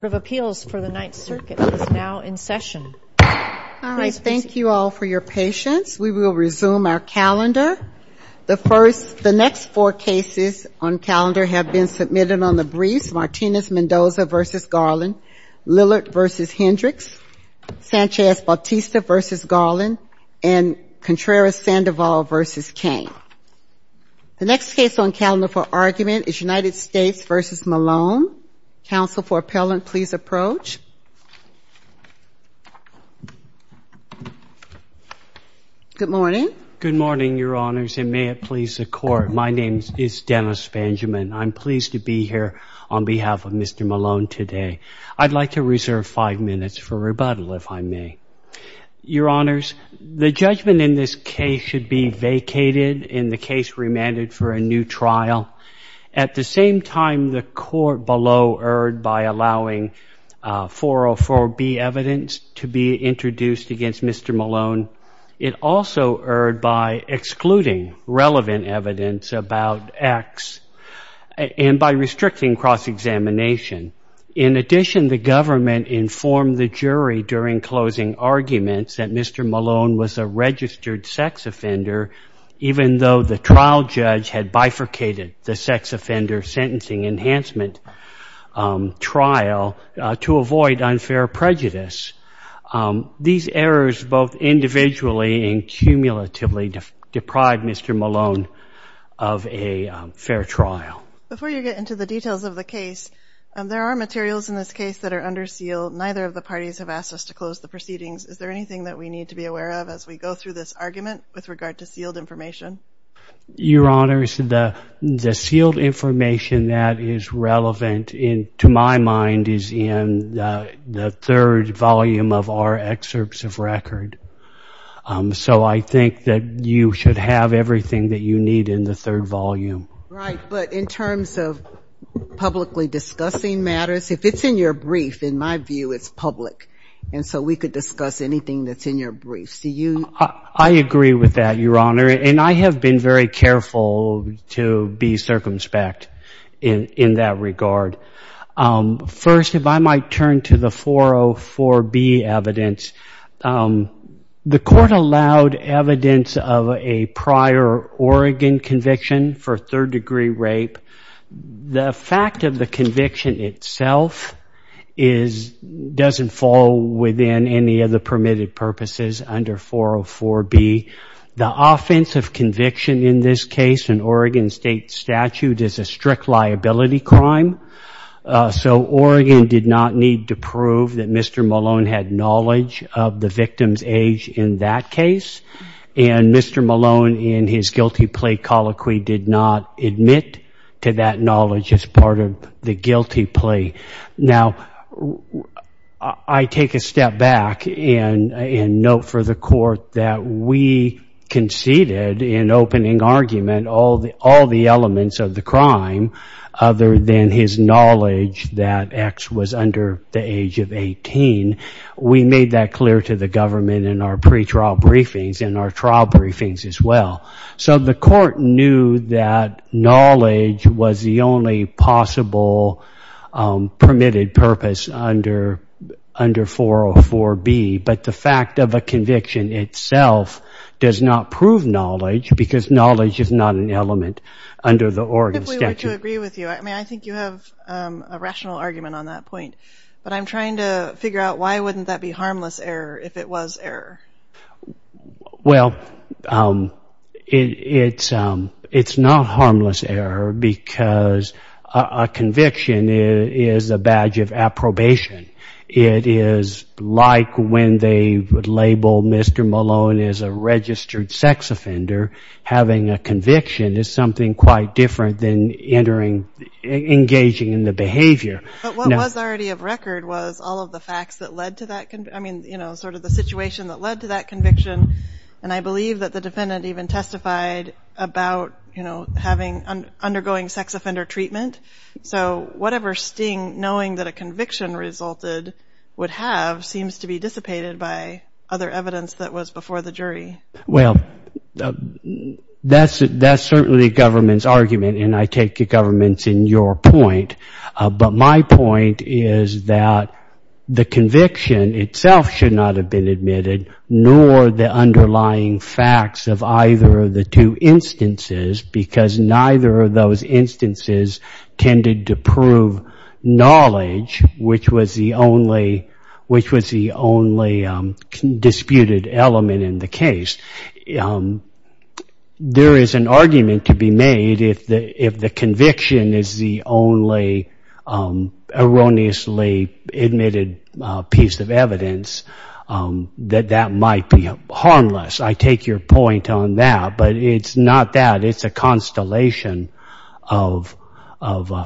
Appeals for the Ninth Circuit is now in session. Thank you all for your patience. We will resume our calendar. The next four cases on calendar have been submitted on the briefs. Martinez-Mendoza v. Garland, Lillard v. Hendricks, Sanchez-Bautista v. Garland, and Contreras-Sandoval v. Cain. The next case on calendar for argument is United States v. Malone. Counsel for appellant, please approach. Good morning. Good morning, Your Honors, and may it please the Court. My name is Dennis Benjamin. I'm pleased to be here on behalf of Mr. Malone today. I'd like to reserve five minutes for rebuttal, if I may. Your Honors, the judgment in this case should be vacated and the case remanded for a new trial. At the same time, the court below erred by allowing 404B evidence to be introduced against Mr. Malone. It also erred by excluding relevant evidence about X and by restricting cross-examination. In addition, the government informed the jury during closing arguments that Mr. Malone was a registered sex offender, even though the trial judge had bifurcated the sex offender sentencing enhancement trial to avoid unfair prejudice. These errors both individually and cumulatively deprived Mr. Malone of a fair trial. Before you get into the details of the case, there are materials in this case that are under seal. Neither of the parties have asked us to close the proceedings. Is there anything that we need to be aware of as we go through this argument with regard to sealed information? Your Honors, the sealed information that is relevant to my mind is in the third volume of our excerpts of record. So I think that you should have everything that you need in the third volume. Right, but in terms of publicly discussing matters, if it's in your brief, in my view, it's public. And so we could discuss anything that's in your brief. I agree with that, Your Honor, and I have been very careful to be circumspect in that regard. First, if I might turn to the 404B evidence, the court allowed evidence of a prior Oregon conviction for third-degree rape. The fact of the conviction itself doesn't fall within any of the permitted purposes under 404B. The offense of conviction in this case in Oregon State statute is a strict liability crime. So Oregon did not need to prove that Mr. Malone had knowledge of the victim's age in that case. And Mr. Malone, in his guilty plea colloquy, did not admit to that knowledge as part of the guilty plea. Now, I take a step back and note for the court that we conceded in opening argument all the elements of the crime, other than his knowledge that X was under the age of 18. We made that clear to the government in our pretrial briefings and our trial briefings as well. So the court knew that knowledge was the only possible permitted purpose under 404B. But the fact of a conviction itself does not prove knowledge because knowledge is not an element under the Oregon statute. If we were to agree with you, I mean, I think you have a rational argument on that point. But I'm trying to figure out why wouldn't that be harmless error if it was error? Well, it's not harmless error because a conviction is a badge of approbation. It is like when they would label Mr. Malone as a registered sex offender. Having a conviction is something quite different than engaging in the behavior. But what was already of record was all of the facts that led to that, I mean, you know, sort of the situation that led to that conviction. And I believe that the defendant even testified about, you know, undergoing sex offender treatment. So whatever sting knowing that a conviction resulted would have seems to be dissipated by other evidence that was before the jury. Well, that's certainly the government's argument, and I take the government's in your point. But my point is that the conviction itself should not have been admitted, nor the underlying facts of either of the two instances because neither of those instances tended to prove knowledge, which was the only disputed element in the case. There is an argument to be made if the conviction is the only erroneously admitted piece of evidence that that might be harmless. I take your point on that, but it's not that. It's a constellation of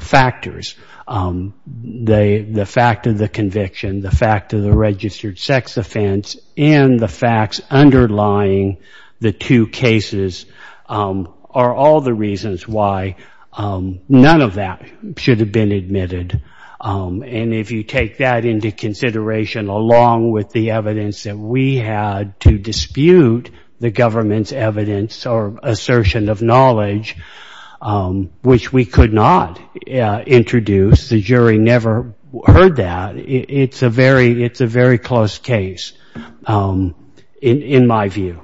factors. The fact of the conviction, the fact of the registered sex offense, and the facts underlying the two cases are all the reasons why none of that should have been admitted. And if you take that into consideration along with the evidence that we had to dispute the government's evidence or assertion of knowledge, which we could not introduce, the jury never heard that. It's a very close case in my view.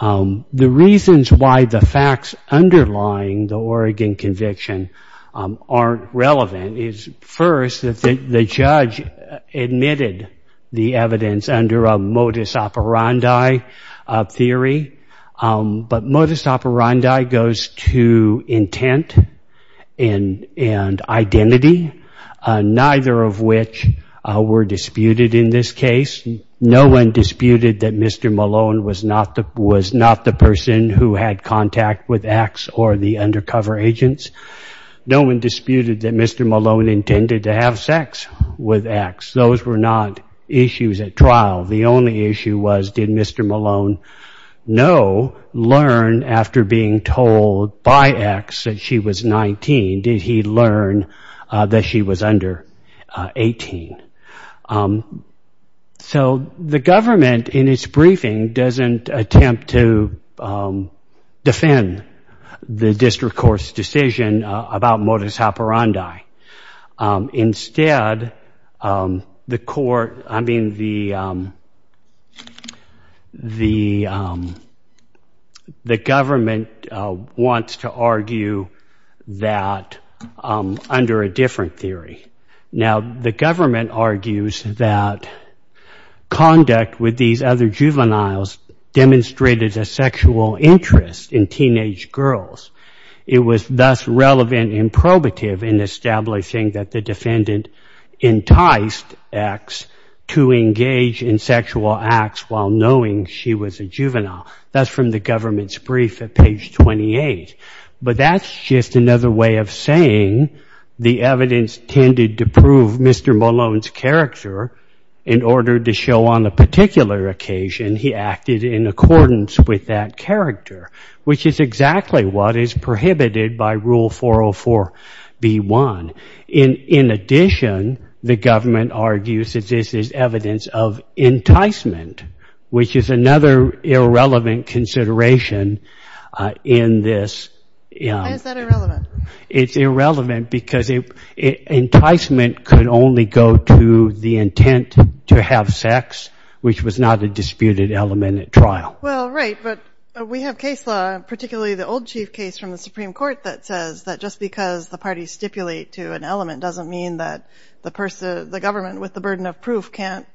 The reasons why the facts underlying the Oregon conviction aren't relevant is, first, that the judge admitted the evidence under a modus operandi theory, but modus operandi goes to intent and identity, neither of which were disputed in this case. No one disputed that Mr. Malone was not the person who had contact with X or the undercover agents. No one disputed that Mr. Malone intended to have sex with X. Those were not issues at trial. The only issue was, did Mr. Malone know, learn after being told by X that she was 19? Did he learn that she was under 18? So the government in its briefing doesn't attempt to defend the district court's decision about modus operandi. Instead, the government wants to argue that under a different theory. Now, the government argues that conduct with these other juveniles demonstrated a sexual interest in teenage girls. It was thus relevant and probative in establishing that the defendant enticed X to engage in sexual acts while knowing she was a juvenile. That's from the government's brief at page 28. But that's just another way of saying the evidence tended to prove Mr. Malone's character in order to show on a particular occasion he acted in accordance with that character, which is exactly what is prohibited by Rule 404B1. In addition, the government argues that this is evidence of enticement, which is another irrelevant consideration in this. Why is that irrelevant? It's irrelevant because enticement could only go to the intent to have sex, which was not a disputed element at trial. Well, right, but we have case law, particularly the old chief case from the Supreme Court, that says that just because the parties stipulate to an element doesn't mean that the person, the government with the burden of proof can't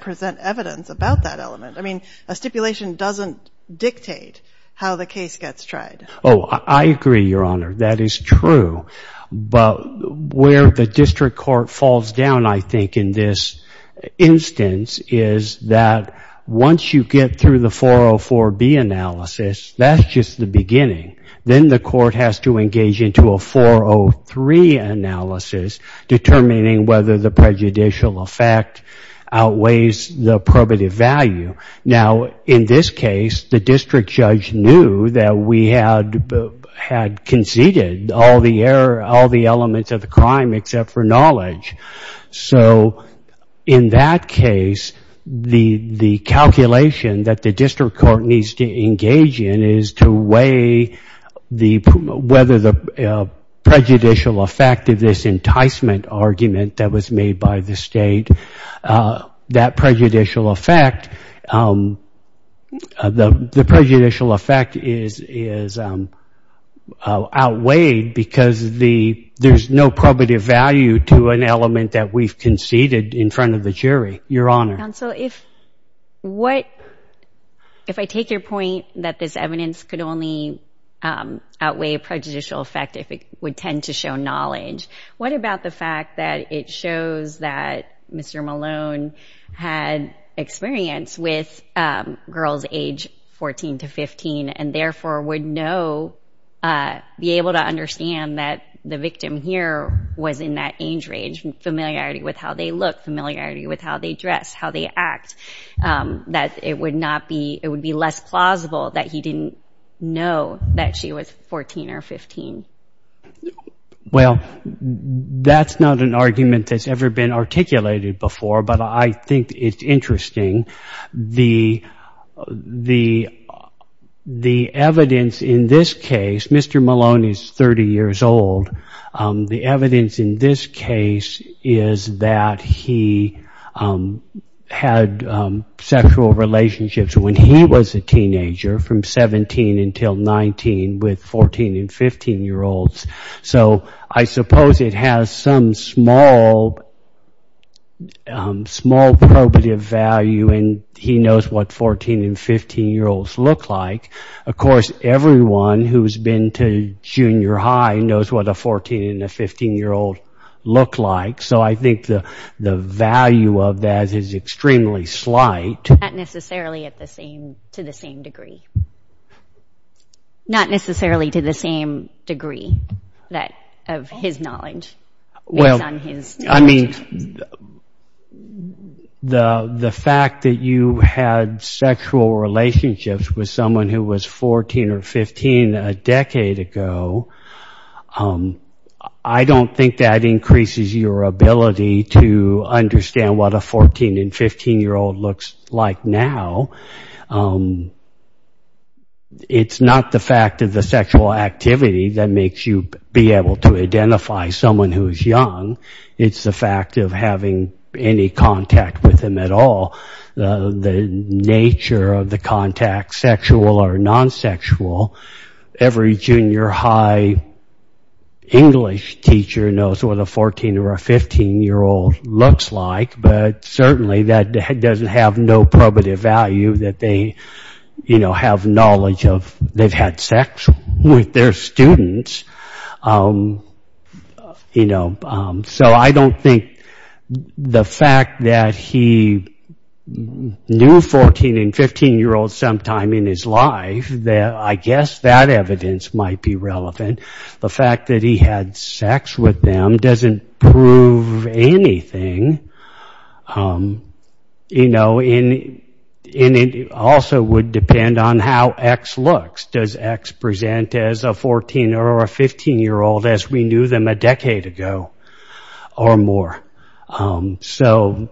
present evidence about that element. I mean, a stipulation doesn't dictate how the case gets tried. Oh, I agree, Your Honor. That is true. But where the district court falls down, I think, in this instance, is that once you get through the 404B analysis, that's just the beginning. Then the court has to engage into a 403 analysis, determining whether the prejudicial effect outweighs the probative value. Now, in this case, the district judge knew that we had conceded all the elements of the crime except for knowledge. So, in that case, the calculation that the district court needs to engage in is to weigh whether the prejudicial effect of this enticement argument that was made by the state, that prejudicial effect, the prejudicial effect is outweighed because there's no probative value to an element that we've conceded in front of the jury. Your Honor. Counsel, if I take your point that this evidence could only outweigh a prejudicial effect if it would tend to show knowledge, what about the fact that it shows that Mr. Malone had experience with girls age 14 to 15 and therefore would know, be able to understand that the victim here was in that age range, familiarity with how they look, familiarity with how they dress, how they act, that it would be less plausible that he didn't know that she was 14 or 15? Well, that's not an argument that's ever been articulated before, but I think it's interesting. The evidence in this case, Mr. Malone is 30 years old. The evidence in this case is that he had sexual relationships when he was a teenager from 17 until 19 with 14 and 15-year-olds. So I suppose it has some small probative value and he knows what 14 and 15-year-olds look like. Of course, everyone who's been to junior high knows what a 14 and a 15-year-old look like, so I think the value of that is extremely slight. Not necessarily to the same degree. Not necessarily to the same degree of his knowledge. Well, I mean, the fact that you had sexual relationships with someone who was 14 or 15 a decade ago, I don't think that increases your ability to understand what a 14 and 15-year-old looks like now. It's not the fact of the sexual activity that makes you be able to identify someone who's young. It's the fact of having any contact with him at all. The nature of the contact, sexual or non-sexual. Every junior high English teacher knows what a 14 or a 15-year-old looks like, but certainly that doesn't have no probative value that they have knowledge of. They've had sex with their students. So I don't think the fact that he knew 14 and 15-year-olds sometime in his life, I guess that evidence might be relevant. The fact that he had sex with them doesn't prove anything. And it also would depend on how X looks. Does X present as a 14 or a 15-year-old as we knew them a decade ago or more? So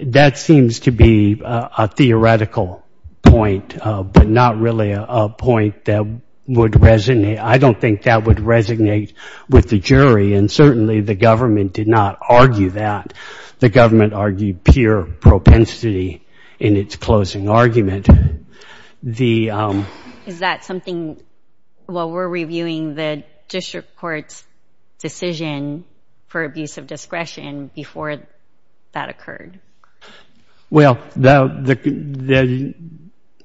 that seems to be a theoretical point, but not really a point that would resonate. I don't think that would resonate with the jury, and certainly the government did not argue that. The government argued pure propensity in its closing argument. Is that something, while we're reviewing the district court's decision for abuse of discretion, before that occurred?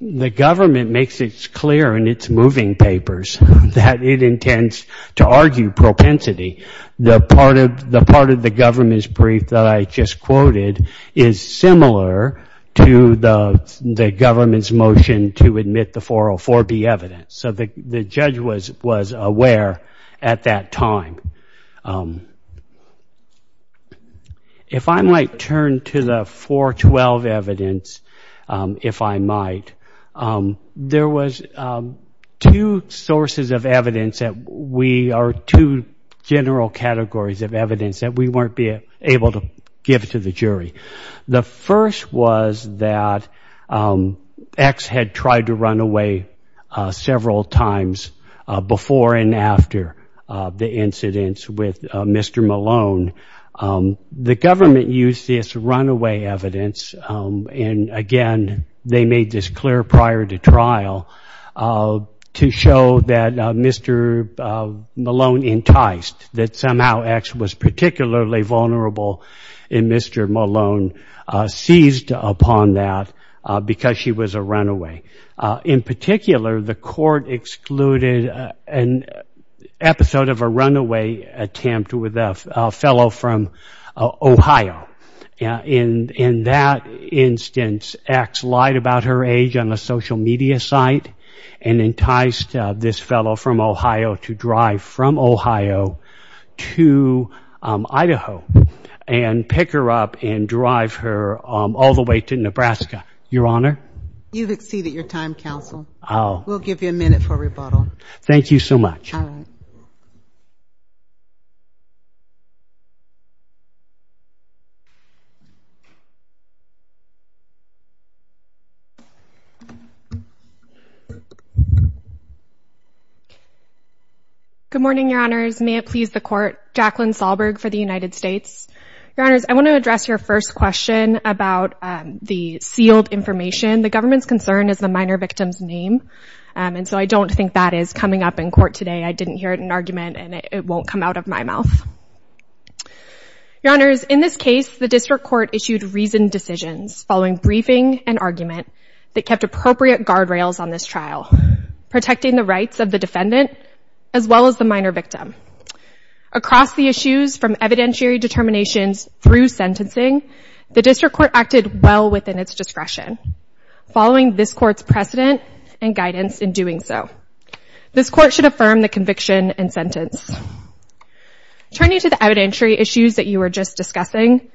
The government makes it clear in its moving papers that it intends to argue propensity. The part of the government's brief that I just quoted is similar to the government's brief on the government's motion to admit the 404B evidence. So the judge was aware at that time. If I might turn to the 412 evidence, if I might, there was two sources of evidence, or two general categories of evidence that we weren't able to give to the jury. The first was that X had tried to run away several times before and after the incidents with Mr. Malone. The government used this runaway evidence, and again, they made this clear prior to trial, to show that Mr. Malone enticed, that somehow X was particularly vulnerable, and Mr. Malone seized upon that because she was a runaway. In particular, the court excluded an episode of a runaway attempt with a fellow from Ohio. In that instance, X lied about her age on a social media site and enticed this fellow from Ohio to drive from Ohio to Idaho and pick her up and drive her all the way to Nebraska. Your Honor? You've exceeded your time, counsel. We'll give you a minute for rebuttal. Thank you so much. Good morning, Your Honors. May it please the court. Jacqueline Sahlberg for the United States. Your Honors, I want to address your first question about the sealed information. The government's concern is the minor victim's name, and so I don't think that is coming up in court today. I didn't hear an argument and it won't come out of my mouth. Your Honors, in this case, the district court issued reasoned decisions following briefing and argument that kept appropriate guardrails on this trial, protecting the rights of the defendant as well as the minor victim. Across the issues from evidentiary determinations through sentencing, the district court acted well within its discretion following this court's precedent and guidance in doing so. This court should affirm the conviction and sentence. Turning to the evidentiary issues that you were just discussing,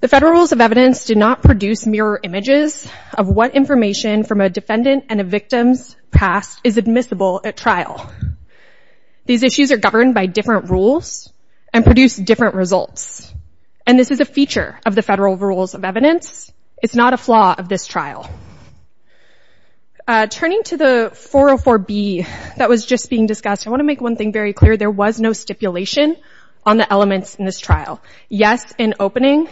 the federal rules of evidence do not produce mirror images of what information from a defendant and a victim's past is admissible at trial. These issues are governed by different rules and produce different results, and this is a feature of the federal rules of evidence. It's not a flaw of this trial. Turning to the 404B that was just being discussed, I want to make one thing very clear. There was no stipulation on the elements in this trial. Yes, in opening,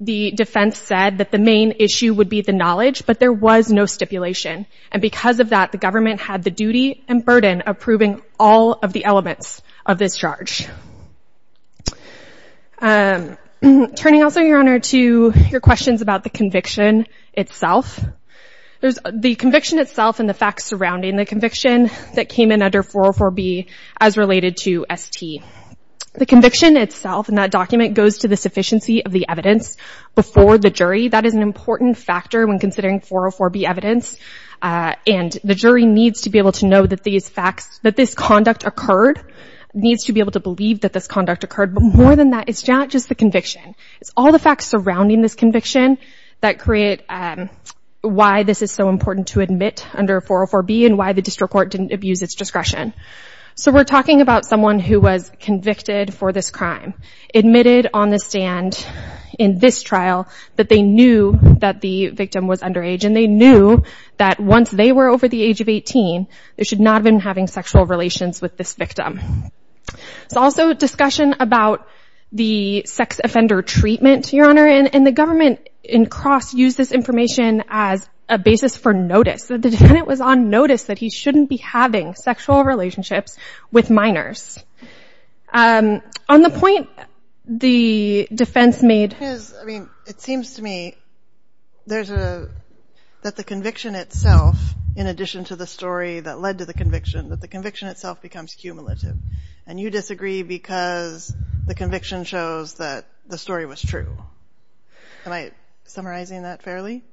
the defense said that the main issue would be the knowledge, but there was no stipulation, and because of that, the government had the duty and burden of proving all of the elements of this charge. Turning also, Your Honor, to your questions about the conviction itself. The conviction itself and the facts surrounding the conviction that came in under 404B as related to ST. The conviction itself in that document goes to the sufficiency of the evidence before the jury. That is an important factor when considering 404B evidence, and the jury needs to be able to know that this conduct occurred, but more than that, it's not just the conviction. It's all the facts surrounding this conviction that create why this is so important to admit under 404B and why the district court didn't abuse its discretion. So we're talking about someone who was convicted for this crime, admitted on the stand in this trial that they knew that the victim was underage, and they knew that once they were over the age of 18, they should not have been having sexual relations with this victim. It's also a discussion about the sex offender treatment, Your Honor, and the government in cross used this information as a basis for notice. The defendant was on notice that he shouldn't be having sexual relationships with minors. On the point the defense made... It seems to me that the conviction itself, in addition to the story that led to the conviction, that the conviction itself becomes cumulative, and you disagree because the conviction shows that the story was true. Am I summarizing that fairly?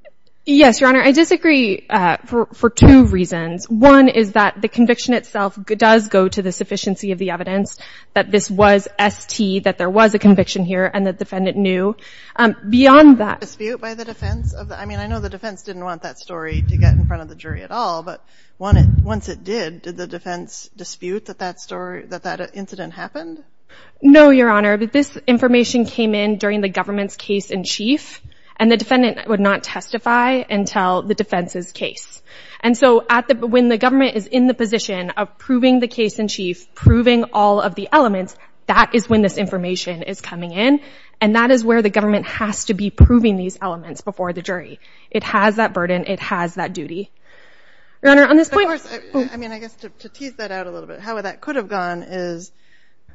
Yes, Your Honor. I disagree for two reasons. One is that the conviction itself does go to the sufficiency of the evidence that this was ST, that there was a conviction here, and the defendant knew. Beyond that... Was there a dispute by the defense? I mean, I know the defense didn't want that story to get in front of the jury at all, but once it did, did the defense dispute that that incident happened? No, Your Honor. This information came in during the defense's case. And so when the government is in the position of proving the case in chief, proving all of the elements, that is when this information is coming in, and that is where the government has to be proving these elements before the jury. It has that burden. It has that duty. Your Honor, on this point... Of course, I mean, I guess to tease that out a little bit, how that could have gone is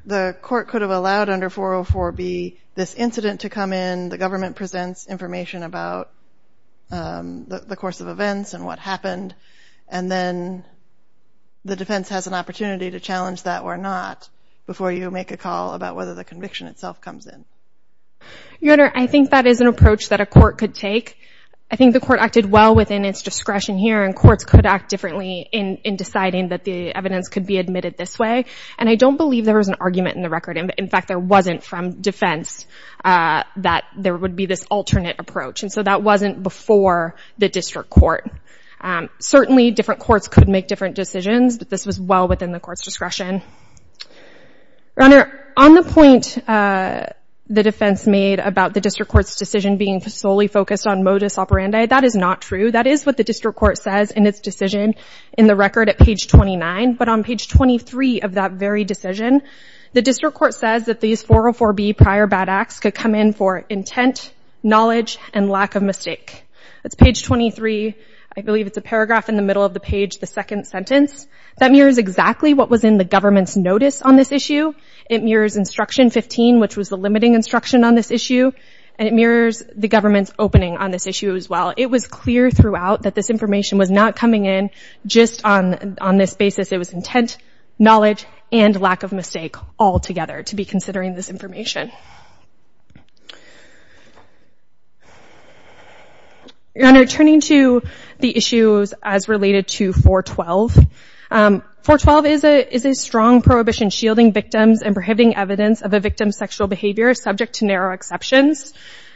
the court could have allowed under 404B this incident to come in, the government presents information about the course of events and what happened, and then the defense has an opportunity to challenge that or not before you make a call about whether the conviction itself comes in. Your Honor, I think that is an approach that a court could take. I think the court acted well within its discretion here, and courts could act differently in deciding that the evidence could be admitted this way. And I don't believe there was an argument in the record. In fact, there wasn't from defense that there would be this alternate approach. And so that wasn't before the district court. Certainly, different courts could make different decisions, but this was well within the court's discretion. Your Honor, on the point the defense made about the district court's decision being solely focused on modus operandi, that is not true. That is what the district court says in its decision in the record at page 29, but on page 23 of that very decision, the district court says that these 404B prior bad acts could come in for intent, knowledge, and lack of mistake. That's page 23. I believe it's a paragraph in the middle of the page, the second sentence. That mirrors exactly what was in the government's notice on this issue. It mirrors instruction 15, which was the limiting instruction on this issue, and it mirrors the government's opening on this issue as well. It was clear throughout that this information was not coming in just on this basis. It was intent, knowledge, and lack of mistake altogether to be considering this information. Your Honor, turning to the issues as related to 412, 412 is a case where there are exceptions.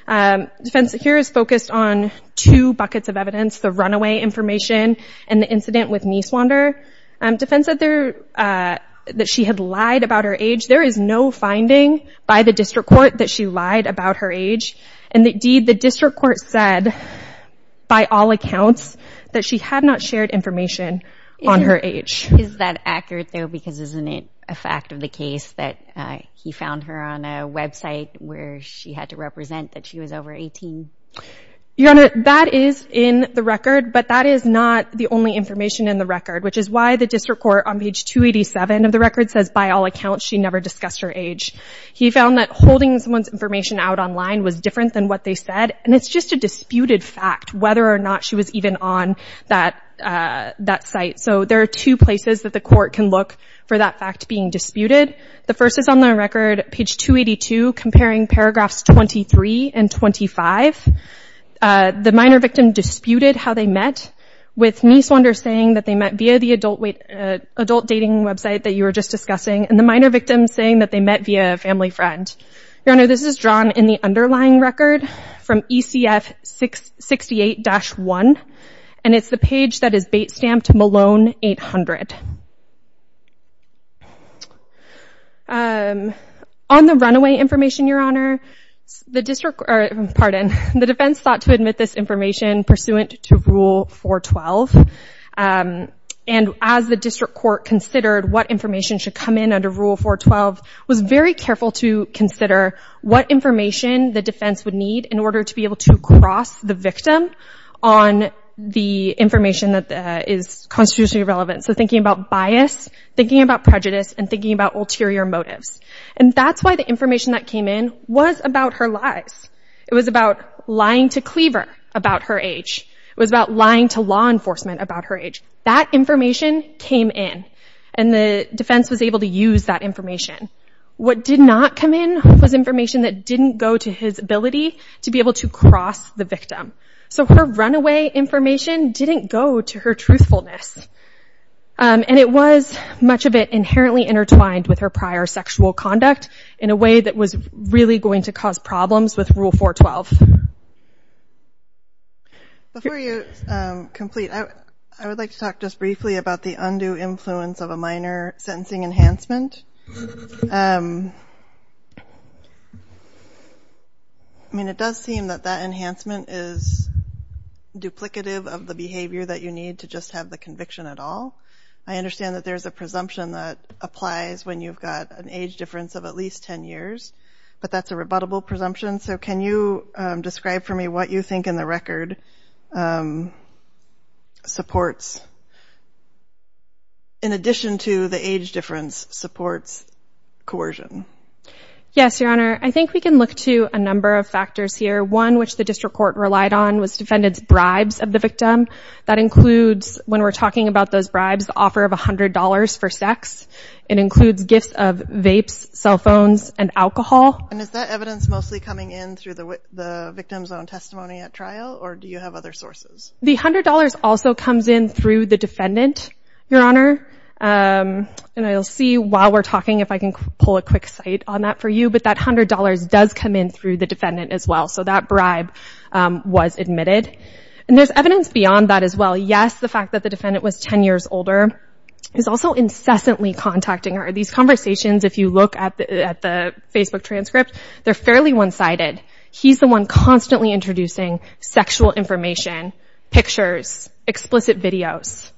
Defense here is focused on two buckets of evidence, the runaway information and the incident with Mieswander. Defense said that she had lied about her age. There is no finding by the district court that she lied about her age, and indeed the district court said by all accounts that she had not shared information on her age. Is that accurate, though, because isn't it a fact of the case that he found her on a website where she had to represent that she was over 18? Your Honor, that is in the record, but that is not the only information in the record, which is why the district court on page 287 of the record says by all accounts she never discussed her age. He found that holding someone's information out online was different than what they said, and it's just a disputed fact whether or not she was even on that site. So there are two places that the court can look for that fact being disputed. The first is on the record, page 282, comparing paragraphs 23 and 25. The minor victim disputed how they met, with Mieswander saying that they met via the adult dating website that you were just discussing, and the minor victim saying that they met via a family friend. Your Honor, this is drawn in the underlying record from ECF 68-1, and it's the page that is bait-stamped Malone 800. On the runaway information, Your Honor, the defense sought to admit this information pursuant to Rule 412, and as the district court considered what information should come in under Rule 412, was very careful to consider what information the defense would need in order to be able to cross the victim on the information that is constitutionally relevant. So thinking about bias, thinking about prejudice, and thinking about ulterior motives. And that's why the information that came in was about her lies. It was about lying to Cleaver about her age. That information came in, and the defense was able to use that information. What did not come in was information that didn't go to his ability to be able to cross the victim. So her runaway information didn't go to her truthfulness. And it was much of it inherently intertwined with her prior sexual conduct in a way that was really going to cause problems with Rule 412. Before you complete, I would like to talk just briefly about the undue influence of a minor sentencing enhancement. I mean, it does seem that that enhancement is duplicative of the behavior that you need to just have the conviction at all. I understand that there's a presumption that applies when you've got an age difference of at least 10 years, but that's a rebuttable presumption. So can you describe for me what you think in the record supports, in addition to the age difference, supports coercion? Yes, Your Honor. I think we can look to a number of factors here. One, which the district court relied on, was defendants' bribes of the victim. That includes, when we're talking about those bribes, the offer of $100 for sex. It includes gifts of vapes, cell phones, and alcohol. And is that evidence mostly coming in through the victim's own testimony at trial, or do you have other sources? The $100 also comes in through the defendant, Your Honor. And I'll see while we're talking if I can pull a quick site on that for you. But that $100 does come in through the defendant as well. So that $100 is a fact that the defendant was 10 years older. He's also incessantly contacting her. These conversations, if you look at the Facebook transcript, they're fairly one-sided. He's the one constantly introducing sexual information, pictures, explicit videos.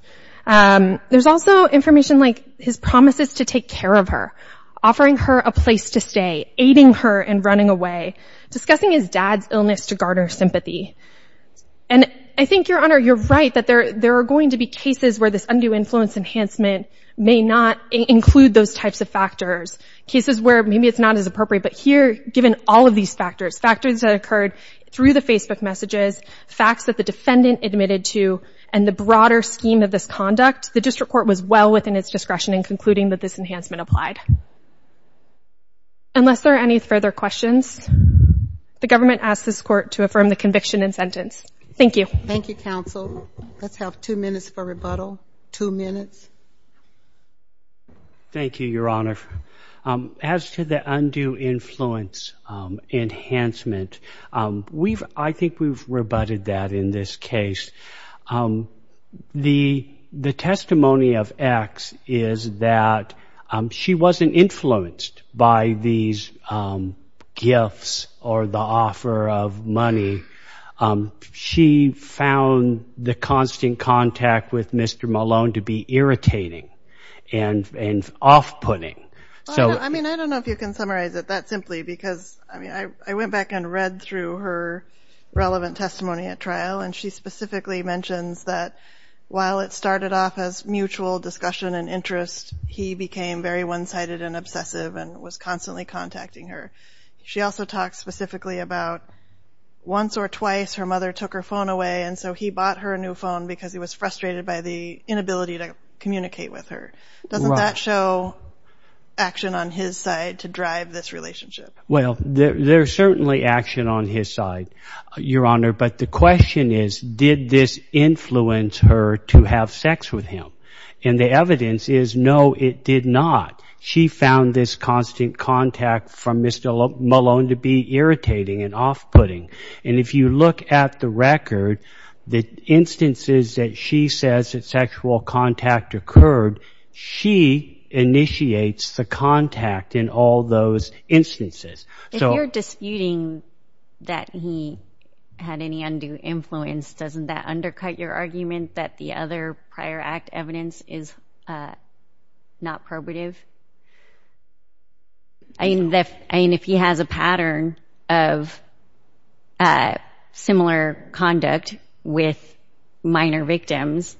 There's also information like his promises to take care of her, offering her a place to stay, aiding her in running away, discussing his past, and so on. So, Your Honor, you're right that there are going to be cases where this undue influence enhancement may not include those types of factors. Cases where maybe it's not as appropriate. But here, given all of these factors, factors that occurred through the Facebook messages, facts that the defendant admitted to, and the broader scheme of this conduct, the District Court was well within its discretion in concluding that this enhancement applied. Unless there are any further questions, the government asks this Court to affirm the conviction and sentence. Thank you. Thank you, Counsel. Let's have two minutes for rebuttal. Two minutes. Thank you, Your Honor. As to the undue influence enhancement, I think we've rebutted that in this case. The testimony of X is that she wasn't influenced by these gifts or the offer of money. She found the constant contact with Mr. Malone to be irritating and off-putting. I don't know if you can summarize it that simply because I went back and read through her relevant testimony at trial, and she specifically mentions that while it started off as mutual discussion and interest, he became very one-sided and obsessive and was constantly contacting her. She also talks specifically about once or twice her mother took her phone away, and so he bought her a new phone because he was frustrated by the inability to communicate with her. Doesn't that show action on his side to drive this relationship? Well, there's certainly action on his side, Your Honor, but the question is, did this influence her to have sex with him? And the evidence is, no, it did not. She found this constant contact from Mr. Malone to be irritating and off-putting. And if you look at the record, the instances that she says that sexual contact occurred, she initiates the contact in all those instances. If you're disputing that he had any undue influence, doesn't that undercut your argument that the other prior act evidence is not probative? I mean, if he has a pattern of similar conduct with minor victims,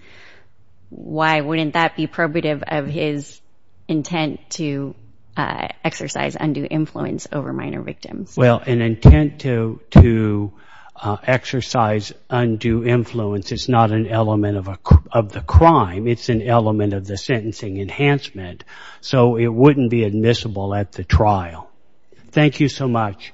why wouldn't that be probative of his intent to exercise undue influence over minor victims? Well, an intent to exercise undue influence, it's not an element of the crime. It's an element of the sentencing enhancement. So it wouldn't be admissible at the trial. Thank you so much.